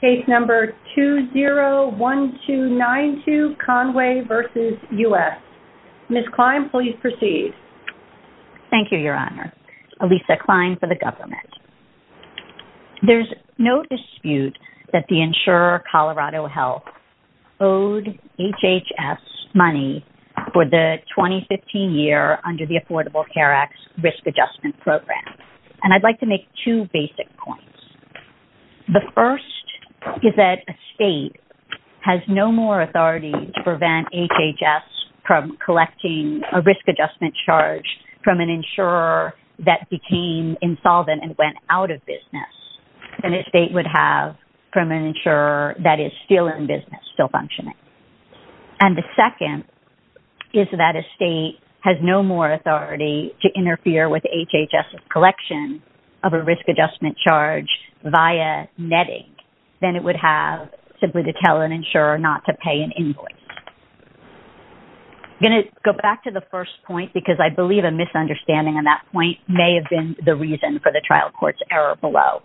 There is no dispute that the Insurer Colorado Health owed HHS money for the 2015 year under the Affordable Care Act's Risk Adjustment Program, and I'd like to make two basic points. The first is that a state has no more authority to prevent HHS from collecting a risk adjustment charge from an insurer that became insolvent and went out of business than a state would have from an insurer that is still in business, still functioning. And the second is that a state has no more authority to interfere with HHS's collection of a risk adjustment charge via netting than it would have simply to tell an insurer not to pay an invoice. I'm going to go back to the first point because I believe a misunderstanding on that point may have been the reason for the trial court's error below.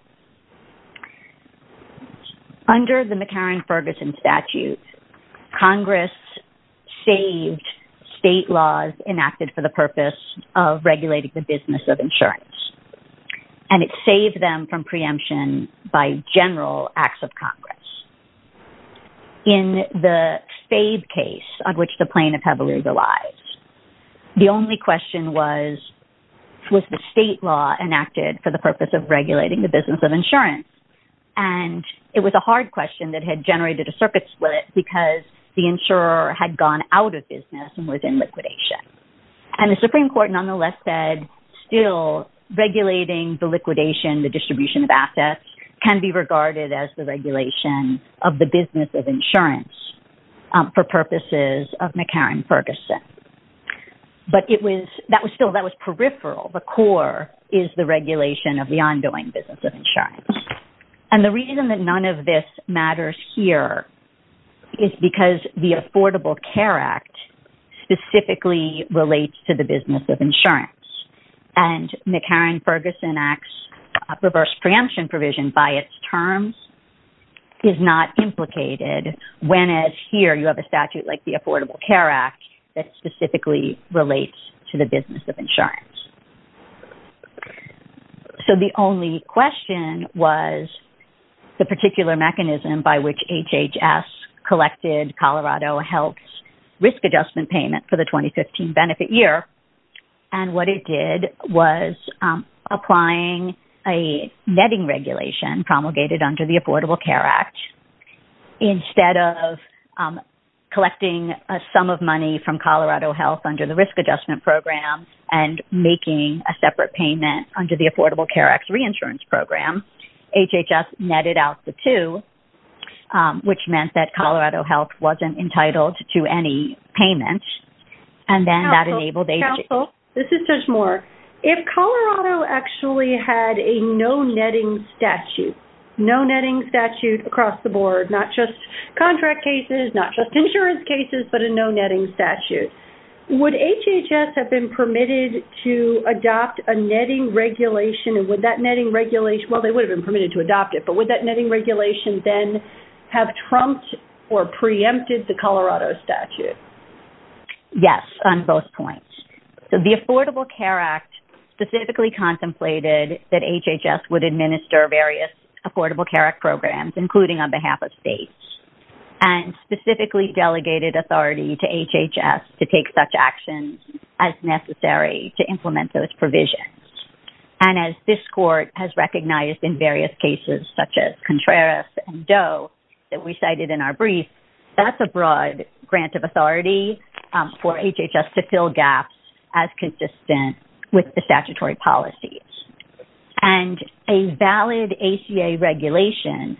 Under the McCarran-Ferguson statute, Congress saved state laws enacted for the purpose of regulating the business of insurance, and it saved them from preemption by general acts of Congress. In the Stabe case on which the plaintiff had legalized, the only question was, was the state law enacted for the purpose of regulating the business of insurance? And it was a hard question that had generated a circuit split because the insurer had gone out of business and was in liquidation. And the Supreme Court nonetheless said, still, regulating the liquidation, the distribution of assets can be regarded as the regulation of the business of insurance for purposes of McCarran-Ferguson. But that was still peripheral. The core is the regulation of the ongoing business of insurance. And the reason that none of this matters here is because the Affordable Care Act specifically relates to the business of insurance. And McCarran-Ferguson Act's reverse preemption provision by its terms is not implicated when, as here, you have a statute like the Affordable Care Act that specifically relates to the business of insurance. So, the only question was the particular mechanism by which HHS collected Colorado Health's risk adjustment payment for the 2015 benefit year. And what it did was applying a netting promulgated under the Affordable Care Act. Instead of collecting a sum of money from Colorado Health under the risk adjustment program and making a separate payment under the Affordable Care Act's reinsurance program, HHS netted out the two, which meant that Colorado Health wasn't entitled to any payments. And then that enabled HHS... Counsel, this is Susan Moore. If Colorado actually had a no netting statute, no netting statute across the board, not just contract cases, not just insurance cases, but a no netting statute, would HHS have been permitted to adopt a netting regulation? And would that netting regulation... Well, they would have been permitted to adopt it, but would that netting regulation then have trumped or preempted the that HHS would administer various Affordable Care Act programs, including on behalf of states, and specifically delegated authority to HHS to take such actions as necessary to implement those provisions? And as this court has recognized in various cases, such as Contreras and Doe that we cited in our brief, that's a broad grant of authority for HHS to fill gaps as consistent with the statutory policies. And a valid ACA regulation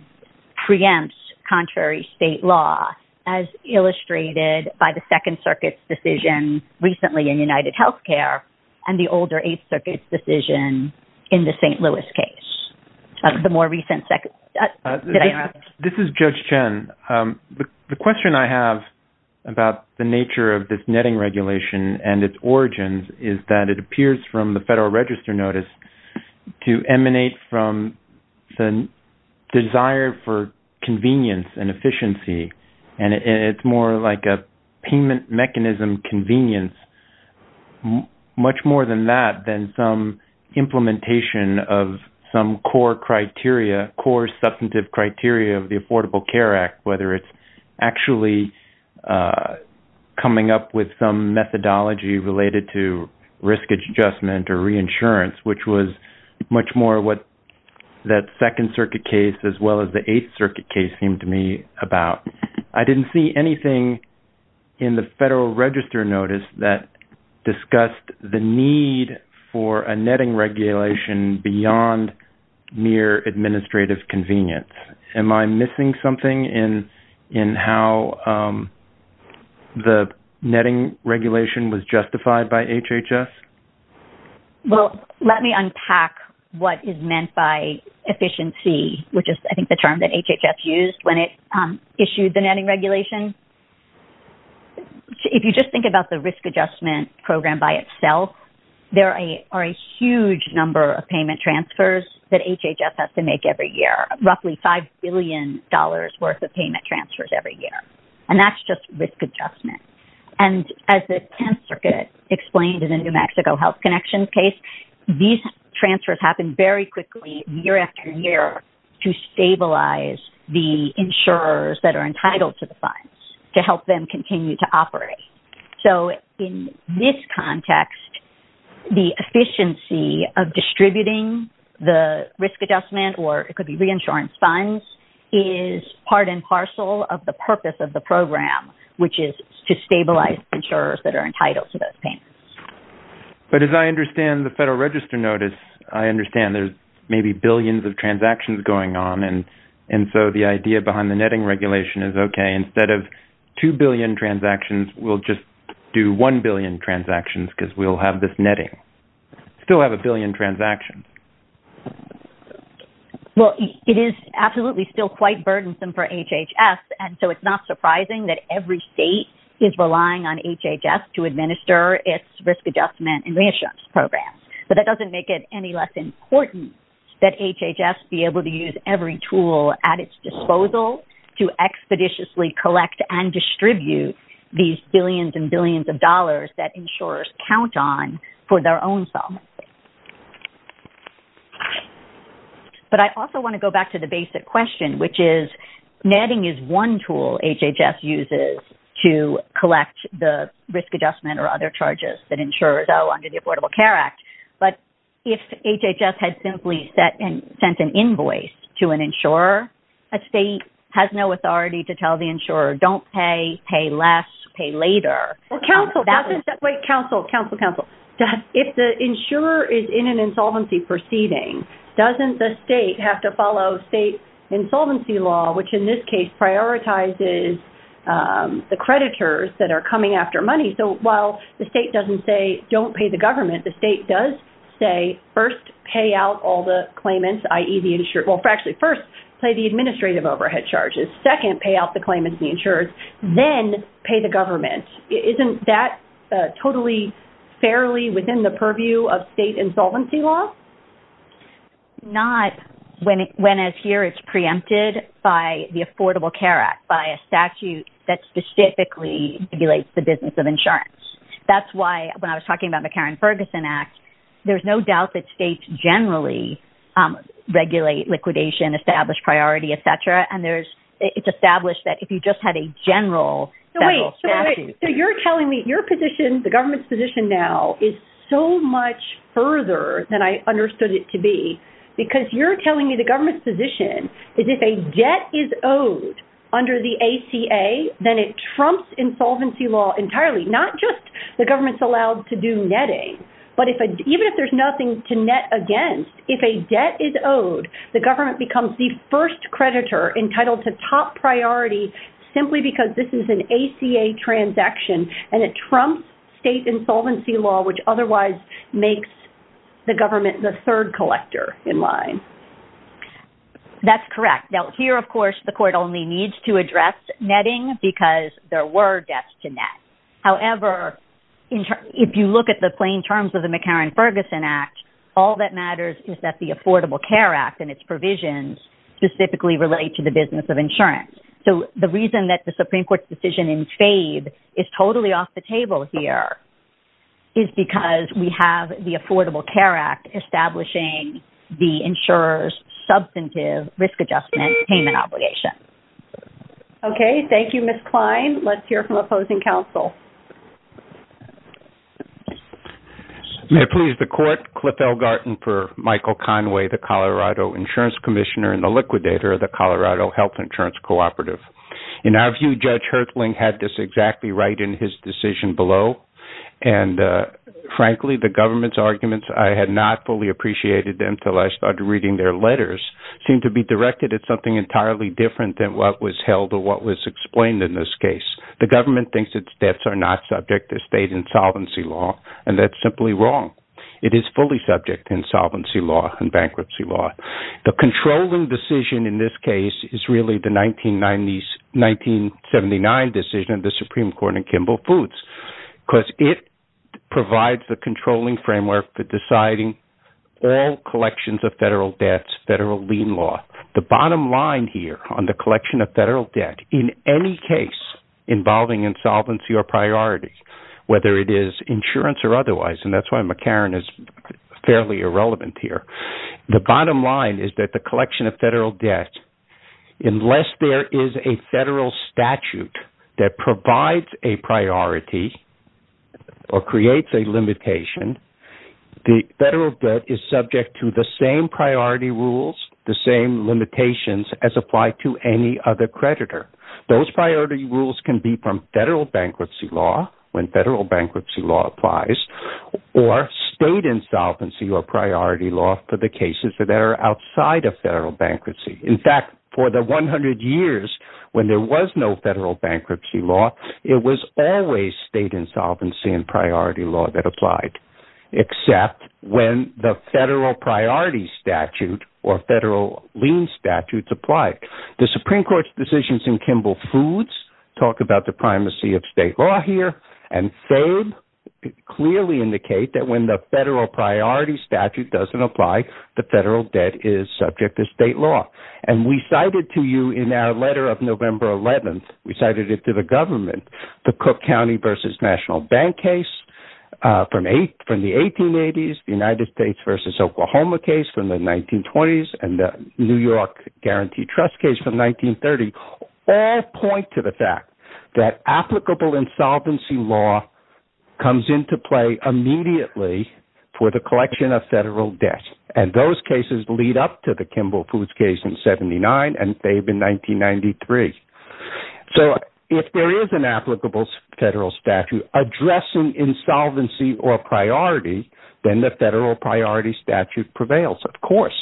preempts contrary state law, as illustrated by the Second Circuit's decision recently in UnitedHealthcare, and the older Eighth Circuit's decision in the St. Louis case. The more recent... This is Judge Chen. The question I have about the nature of this netting regulation and its origins is that it appears from the Federal Register Notice to emanate from the desire for convenience and efficiency. And it's more like a payment mechanism convenience, much more than that, than some implementation of some core criteria, core substantive criteria of the Affordable Care Act, whether it's actually coming up with some methodology related to risk adjustment or reinsurance, which was much more what that Second Circuit case, as well as the Eighth Circuit case, seemed to me about. I didn't see anything in the Federal Register Notice that discussed the need for a netting regulation beyond mere administrative convenience. Am I missing something in how the netting regulation was justified by HHS? Well, let me unpack what is meant by efficiency, which is, I think, the term that HHS used when it issued the netting regulation. If you just think about the risk adjustment program by itself, there are a huge number of payment transfers that HHS has to make every year, roughly $5 billion worth of payment transfers every year. And that's just risk adjustment. And as the Tenth Circuit explained in the New Mexico Health Connections case, these transfers happen very quickly, year after year, to stabilize the insurers that are entitled to the funds, to help them continue to operate. So in this context, the efficiency of distributing the risk adjustment, or it could be reinsurance funds, is part and parcel of the purpose of the program, which is to stabilize insurers that are entitled to those payments. But as I understand the Federal Register Notice, I understand there's maybe billions of transactions going on. And so the idea behind the netting regulation is, okay, instead of 2 billion transactions, we'll just do 1 billion transactions because we'll have this netting. Still have a billion transactions. Well, it is absolutely still quite burdensome for HHS. And so it's not surprising that every state is relying on HHS to administer its risk adjustment and reinsurance programs. But that doesn't make it any less important that HHS be able to use every tool at its disposal to expeditiously collect and distribute these billions and billions of dollars that insurers count on for their own settlement. But I also want to go back to the basic question, which is netting is one tool HHS uses to collect the risk adjustment or other charges that insurers owe to the Affordable Care Act. But if HHS had simply sent an invoice to an insurer, a state has no authority to tell the insurer, don't pay, pay less, pay later. Well, counsel doesn't... Wait, counsel, counsel, counsel. If the insurer is in an insolvency proceeding, doesn't the state have to follow state insolvency law, which in this case, prioritizes the creditors that are coming after money? So while the state doesn't say, don't pay the government, the state does say, first, pay out all the claimants, i.e. the insurer... Well, actually, first, pay the administrative overhead charges. Second, pay out the claimants, the insurers, then pay the government. Isn't that totally, fairly within the purview of state insolvency law? Not when, as here, it's preempted by the Affordable Care Act, by a statute that specifically regulates the business of insurance. That's why, when I was talking about the Karen Ferguson Act, there's no doubt that states generally regulate liquidation, establish priority, etc. And there's, it's established that if you just had a general, federal statute... So wait, so you're telling me your position, the government's position now, is so much further than I understood it to be, because you're telling me the government's position is if a debt is owed under the ACA, then it trumps insolvency law entirely, not just the government's allowed to do netting, but even if there's nothing to net against, if a debt is owed, the government becomes the first creditor entitled to top priority, simply because this is an ACA transaction, and it trumps state insolvency law, which otherwise makes the government the third collector in line. That's correct. Now, here, of course, the court only needs to address netting, because there were debts to net. However, if you look at the plain terms of the McCarran-Ferguson Act, all that matters is that the Affordable Care Act and its provisions specifically relate to the business of insurance. So the reason that the Supreme Court's decision in FABE is totally off the table here is because we have the Affordable Care Act establishing the insurer's substantive risk adjustment payment obligation. Okay. Thank you, Ms. Klein. Let's hear from opposing counsel. May I please the court? Cliff Elgarten for Michael Conway, the Colorado Insurance Commissioner and the liquidator of the Colorado Health Insurance Cooperative. In our view, Judge Hirtling had this decision below. And frankly, the government's arguments, I had not fully appreciated them until I started reading their letters, seem to be directed at something entirely different than what was held or what was explained in this case. The government thinks its debts are not subject to state insolvency law. And that's simply wrong. It is fully subject to insolvency law and bankruptcy law. The controlling decision in this case is really the 1979 decision of the Supreme Court in Kimball Foods, because it provides the controlling framework for deciding all collections of federal debts, federal lien law. The bottom line here on the collection of federal debt, in any case involving insolvency or priority, whether it is insurance or otherwise, and that's why McCarran is fairly irrelevant here. The bottom line is that the collection of federal debt, unless there is a federal statute that provides a priority or creates a limitation, the federal debt is subject to the same priority rules, the same limitations as apply to any other creditor. Those priority rules can be from federal bankruptcy law when federal bankruptcy law applies or state insolvency or priority law for the cases that are outside of federal bankruptcy. In fact, for the 100 years when there was no federal bankruptcy law, it was always state insolvency and priority law that applied, except when the federal priority statute or federal lien statutes applied. The Supreme Court's decisions in Kimball Foods talk about the primacy of state law here. And they clearly indicate that when the federal priority statute doesn't apply, the federal debt is subject to state law. And we cited to you in our letter of November 11th, we cited it to the government, the Cook County versus National Bank case from the 1880s, the United States versus Oklahoma case from the 1920s, and the New York Guaranteed Trust case from 1930, all point to the fact that applicable insolvency law comes into play immediately for the collection of federal debts. And those cases lead up to the Kimball Foods case in 79, and they've been 1993. So if there is an applicable federal statute addressing insolvency or priority, then the federal priority statute prevails, of course.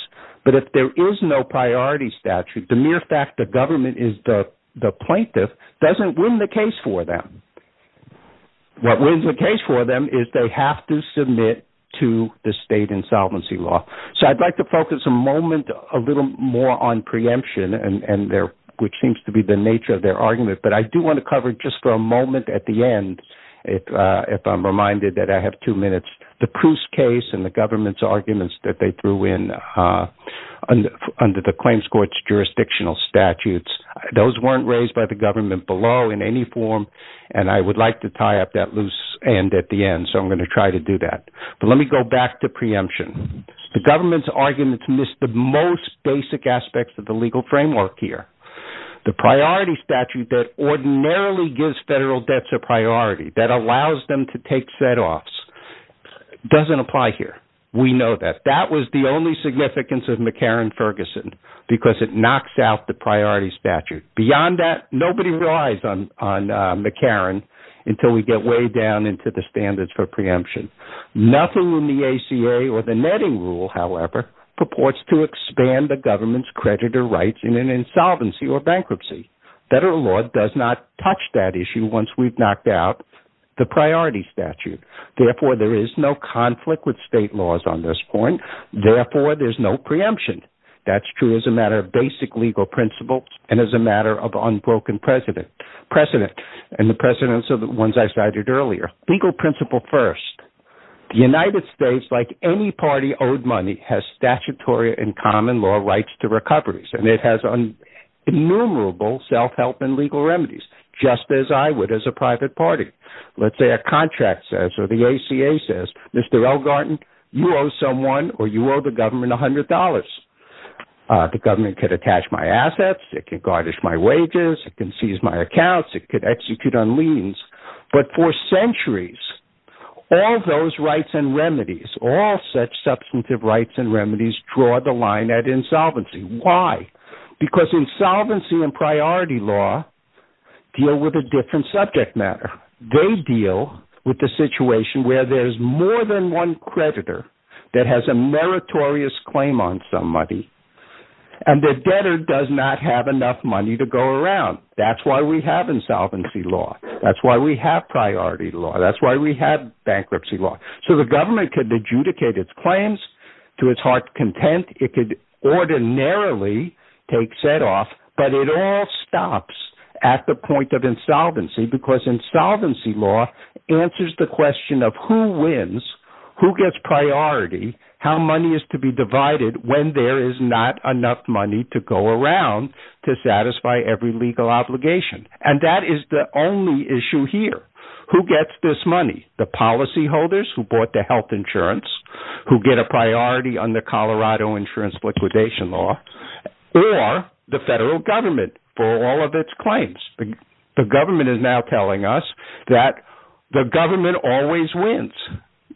But if there is no priority statute, the mere fact the government is the plaintiff doesn't win the case for them. And what wins the case for them is they have to submit to the state insolvency law. So I'd like to focus a moment a little more on preemption, which seems to be the nature of their argument. But I do want to cover just for a moment at the end, if I'm reminded that I have two minutes, the Proust case and the government's arguments that they threw in under the claims court's jurisdictional statutes. Those weren't raised by the government below in any form. And I would like to tie up that loose end at the end. So I'm going to try to do that. But let me go back to preemption. The government's arguments missed the most basic aspects of the legal framework here. The priority statute that ordinarily gives federal debts a priority that allows them to take setoffs doesn't apply here. We know that that was the only significance of McCarran-Ferguson because it knocks out the priority statute. Beyond that, nobody relies on McCarran until we get way down into the standards for preemption. Nothing in the ACA or the netting rule, however, purports to expand the government's creditor rights in an insolvency or bankruptcy. Federal law does not touch that issue once we've knocked out the priority statute. Therefore, there is no conflict with state laws on this point. Therefore, there's no preemption. That's true as a matter of basic legal principles and as a matter of unbroken precedent. And the precedents are the ones I cited earlier. Legal principle first. The United States, like any party owed money, has statutory and common law rights to recoveries, and it has innumerable self-help and legal remedies, just as I would as a private party. Let's say a contract says, or the ACA says, Mr. Elgarten, you owe someone or you owe the government $100. The government could attach my assets, it can garnish my wages, it can seize my accounts, it could execute on liens. But for centuries, all those rights and remedies, all such substantive rights and remedies draw the line at insolvency. Why? Because insolvency and priority law deal with a different subject matter. They deal with the situation where there's more than one creditor that has a meritorious claim on some money, and the debtor does not have enough money to go around. That's why we have insolvency law. That's why we have priority law. That's why we have bankruptcy law. So the government could adjudicate its claims to its heart's content, it could ordinarily take setoff, but it all stops at the point of insolvency, because insolvency law answers the question of who wins, who gets priority, how money is to be divided when there is not enough money to go around to satisfy every legal obligation. And that is the only issue here. Who gets this money? The policyholders who bought the health insurance, who get a priority on the Colorado insurance liquidation law, or the federal government for all of its claims. The government is now telling us that the government always wins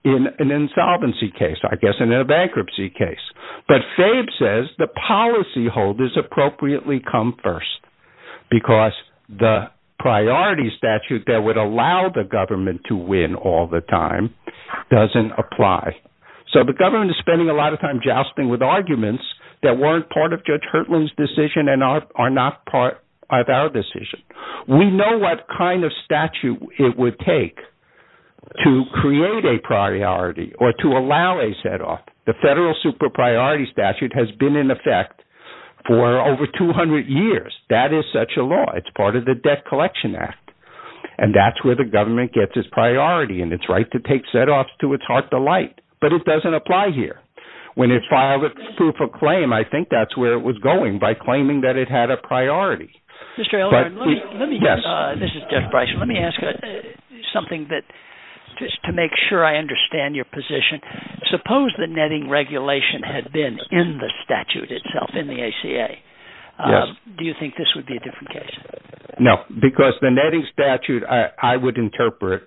in an insolvency case, I guess in a bankruptcy case. But Fabe says the policyholders appropriately come first, because the priority statute that would allow the government to win all the time doesn't apply. So the government is spending a lot of time jousting with arguments that weren't part of Judge Hertling's decision and are not part of our decision. We know what kind of statute it would take to create a priority or to allow a setoff. The federal super priority statute has been in effect for over 200 years. That is such a law. It's part of the Debt Collection Act. And that's where the government gets its priority and its right to take setoffs to its heart's delight. But it doesn't apply here. When it filed a proof of claim, I think that's where it was going by claiming that it had a priority. Jeff Bryson, let me ask you something just to make sure I understand your position. Suppose the netting regulation had been in the statute itself in the ACA. Do you think this would be a different case? No, because the netting statute, I would interpret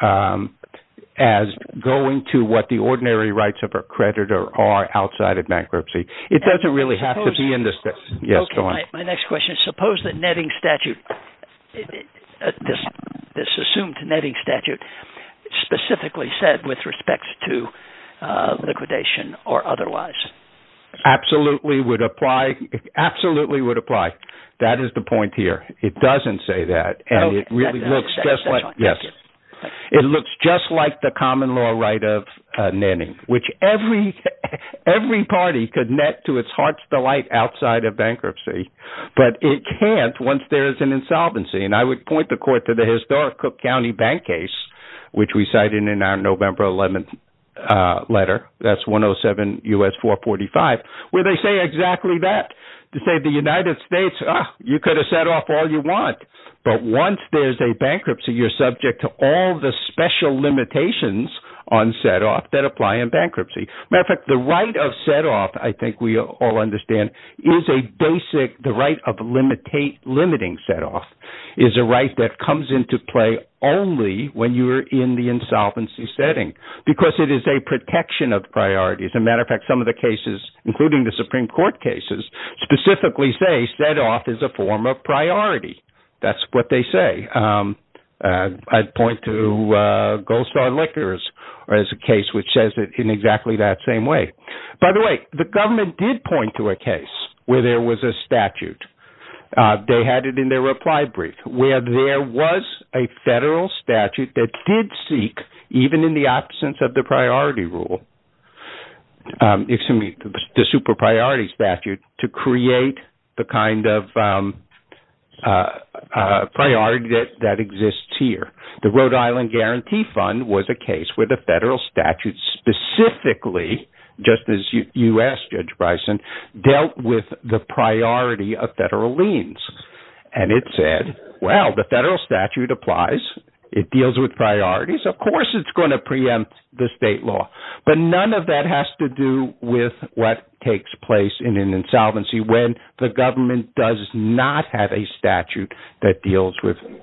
as going to what the ordinary rights of a creditor are outside of bankruptcy. It doesn't really have to be in the statute. Yes, go on. My next question is suppose that netting statute, this assumed netting statute, specifically said with respect to liquidation or otherwise? Absolutely would apply. That is the point here. It doesn't say that. It looks just like the common law right of netting, which every party could net to its heart's delight outside of bankruptcy. But it can't once there is an insolvency. And I would point the court to the historic Cook County bank case, which we cited in our November 11 letter. That's 107 U.S. 445, where they say exactly that. They say the United States, you could have set off all you want. But once there's a bankruptcy, you're subject to all the special limitations on set off that apply in bankruptcy. Matter of fact, the right of set off, I think we all understand is a basic, the right of limiting set off is a right that comes into play only when you are in the insolvency setting because it is a protection of priorities. As a matter of fact, some of the cases, including the Supreme Court cases, specifically say set off is a form of priority. That's what they say. I'd point to Gold Star Liquors as a case which says it in exactly that same way. By the way, the government did point to a case where there was a statute. They had it in their applied brief where there was a federal statute that did seek, even in the absence of the priority rule, excuse me, the super priority statute to create the kind of priority that exists here. The Rhode Island Guarantee Fund was a case where the federal statute specifically, just as you asked Judge Bryson, dealt with the priority of federal liens. And it said, well, the federal statute applies. It deals with priorities. Of course, it's going to preempt the state law. But none of that has to do with what takes place in an insolvency when the government does not have a statute that deals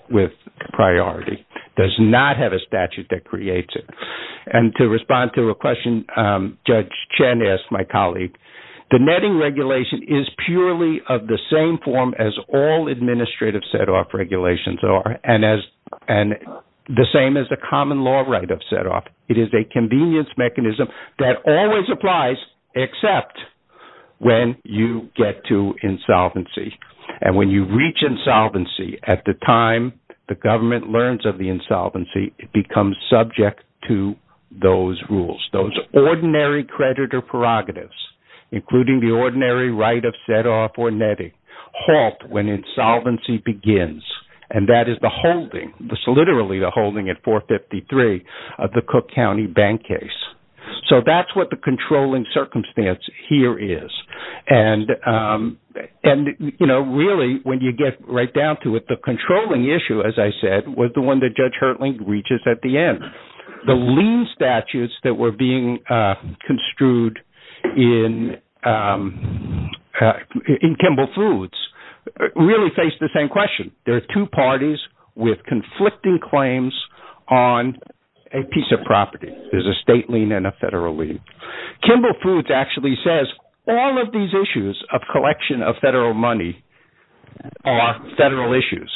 with priority, does not have a statute that creates it. And to respond to a question Judge Chen asked, my colleague, the netting regulation is purely of the same form as all administrative set off regulations are, and the same as the common law right of set off. It is a convenience mechanism that always applies, except when you get to insolvency. And when you reach insolvency, at the time the government learns of the insolvency, it becomes subject to those rules. Those ordinary creditor prerogatives, including the ordinary right of set off or netting, halt when insolvency begins. And that is the holding, literally the holding at 453 of the Cook County bank case. So that's what the controlling circumstance here is. And, you know, really, when you get right down to it, the controlling issue, as I said, was the one that Judge Hertling reaches at the end. The lien statutes that were being construed in Kimball Foods really face the same question. There are two parties with conflicting claims on a piece of property. There's a state lien and a federal lien. Kimball Foods actually says, all of these issues of collection of federal money are federal issues.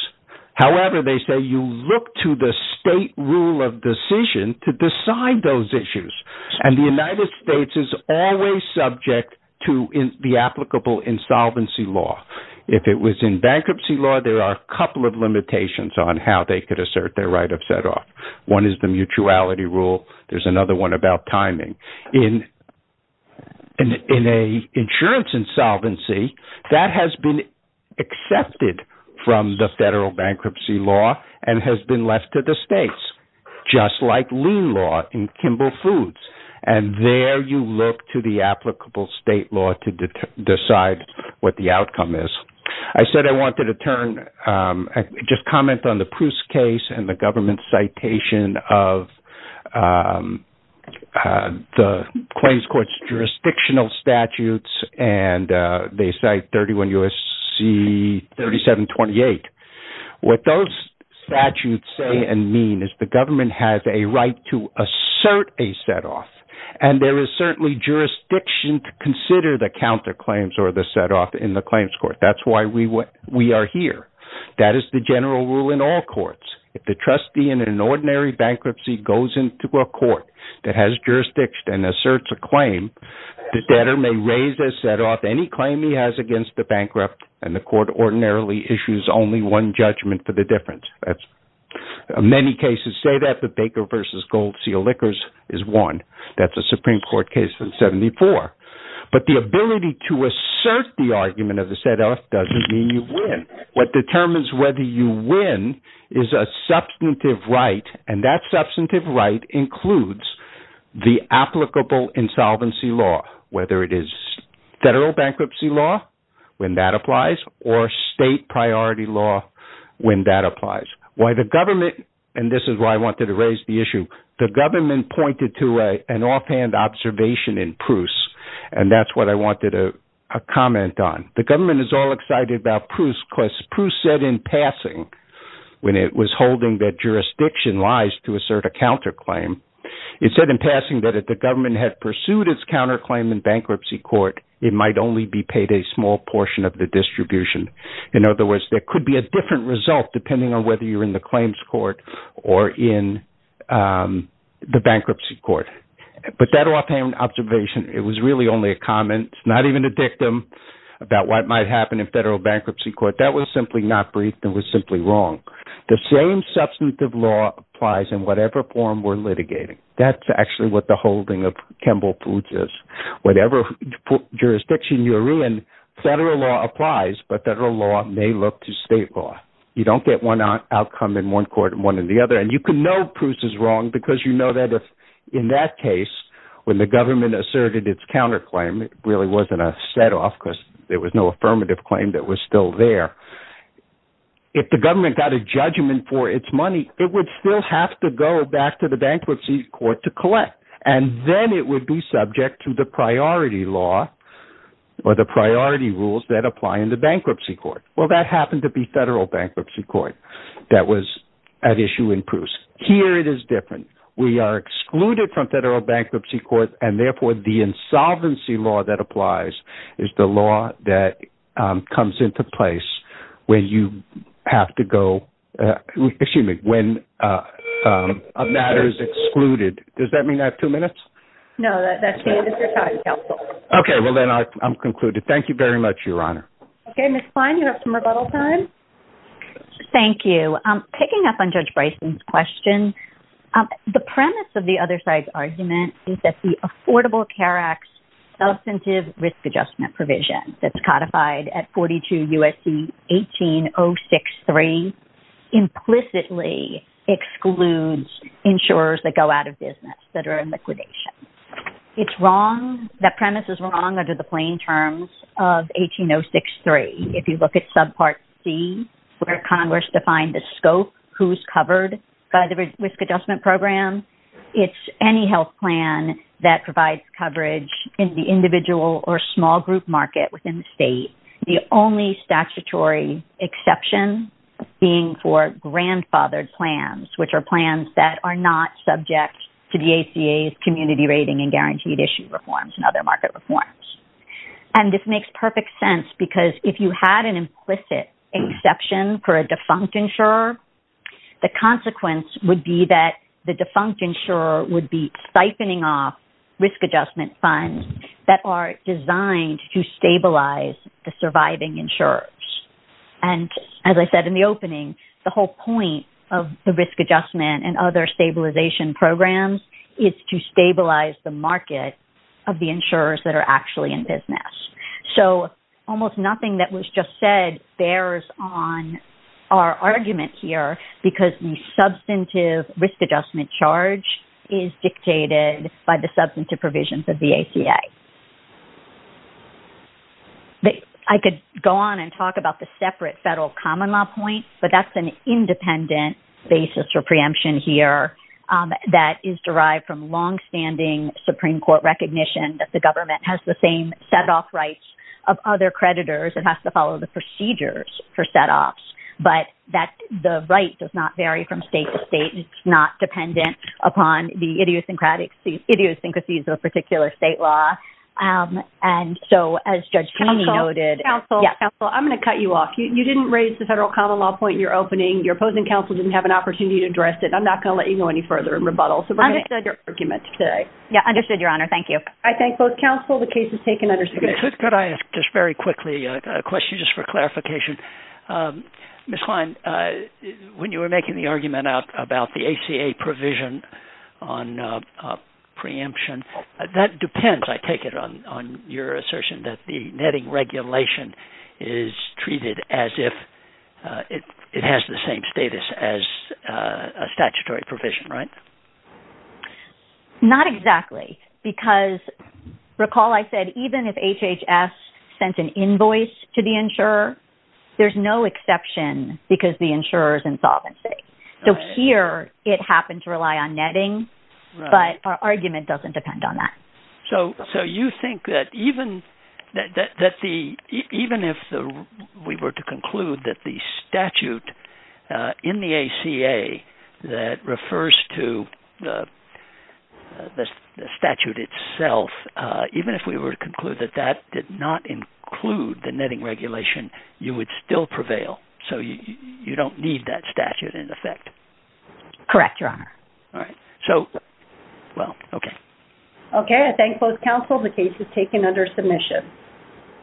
However, they say you look to the state rule of decision to decide those issues. And the United States is always subject to the applicable insolvency law. If it was in bankruptcy law, there are a couple of limitations on how they could assert their right of set off. One is the mutuality rule. There's another one about timing. In an insurance insolvency, that has been accepted from the federal bankruptcy law and has been left to the states, just like lien law in Kimball Foods. And there you look to the applicable state law to decide what the outcome is. I said I wanted to turn, just comment on the citation of the claims court's jurisdictional statutes. And they cite 31 U.S.C. 3728. What those statutes say and mean is the government has a right to assert a set off. And there is certainly jurisdiction to consider the counter claims or the set off in the claims court. That's why we are here. That is the general rule in all courts. If the trustee in an ordinary bankruptcy goes into a court that has jurisdiction and asserts a claim, the debtor may raise a set off any claim he has against the bankrupt. And the court ordinarily issues only one judgment for the difference. Many cases say that the Baker versus Gold Seal liquors is one. That's a Supreme Court case from 74. But the ability to assert the argument of the set off doesn't mean you win. What determines whether you win is a substantive right. And that substantive right includes the applicable insolvency law, whether it is federal bankruptcy law when that applies or state priority law when that applies. Why the government and this is why I wanted to raise the issue. The government pointed to an offhand observation in Pruess and that's what I wanted to comment on. The government is all excited about Pruess because Pruess said in passing when it was holding that jurisdiction lies to assert a counterclaim. It said in passing that if the government had pursued its counterclaim in bankruptcy court, it might only be paid a small portion of the distribution. In other words, there could be a different result depending on whether you're in the claims court or in the bankruptcy court. But that offhand observation, it was really only a comment, not even a dictum about what might happen in federal bankruptcy court. That was simply not briefed and was simply wrong. The same substantive law applies in whatever form we're litigating. That's actually what the holding of Kimball Foods is. Whatever jurisdiction you're in, you can know Pruess is wrong because you know that if in that case when the government asserted its counterclaim, it really wasn't a set off because there was no affirmative claim that was still there. If the government got a judgment for its money, it would still have to go back to the bankruptcy court to collect and then it would be subject to the priority law or the priority rules that apply in the bankruptcy court. Well, that happened to be federal bankruptcy court. That was at issue in Pruess. Here it is different. We are excluded from federal bankruptcy court and therefore the insolvency law that applies is the law that comes into place when you have to go, excuse me, when a matter is excluded. Does that mean I have two minutes? No, that's the end of your time, counsel. Okay, well then I'm concluded. Thank you very much, Your Honor. Okay, Ms. Klein, you have some rebuttal time. Thank you. Picking up on Judge Bryson's question, the premise of the other side's argument is that the Affordable Care Act's substantive risk adjustment provision that's codified at 42 U.S.C. 18063 implicitly excludes insurers that go out of business that are in liquidation. It's wrong. That premise is wrong under the plain terms of 18063. If you look at subpart C, where Congress defined the scope, who's covered by the risk adjustment program, it's any health plan that provides coverage in the individual or small group market within the state. The only statutory exception being for grandfathered plans, which are plans that are not subject to the ACA's community rating and guaranteed issue reforms and other market reforms. And this makes perfect sense because if you had an implicit exception for a defunct insurer, the consequence would be that the defunct insurer would be stifening off risk adjustment funds that are designed to stabilize the surviving insurers. And as I said in the opening, the whole point of the risk adjustment and other stabilization programs is to stabilize the market of the insurers that are actually in business. So almost nothing that was just said bears on our argument here because the substantive risk adjustment charge is dictated by the substantive provisions of the ACA. I could go on and talk about the separate federal common point, but that's an independent basis for preemption here that is derived from longstanding Supreme Court recognition that the government has the same setoff rights of other creditors. It has to follow the procedures for setoffs, but that the right does not vary from state to state. It's not dependent upon the idiosyncrasies of a particular state law. And so as Judge in your opening, your opposing counsel didn't have an opportunity to address it. I'm not going to let you go any further in rebuttal. So I understood your argument today. Yeah, understood, Your Honor. Thank you. I thank both counsel. The case is taken under submission. Could I ask just very quickly a question just for clarification? Ms. Klein, when you were making the argument out about the ACA provision on preemption, that depends, I take it, on your assertion that the netting regulation is treated as if it has the same status as a statutory provision, right? Not exactly, because recall I said even if HHS sent an invoice to the insurer, there's no exception because the insurer is insolvent. So here it happened to rely on netting, but our argument doesn't depend on that. So you think that even if we were to conclude that the statute in the ACA that refers to the statute itself, even if we were to conclude that that did not include the netting regulation, you would still prevail? So you don't need that statute in effect? Correct, Your Honor. All right. So well, okay. Okay. I thank both counsel. The case is taken under submission.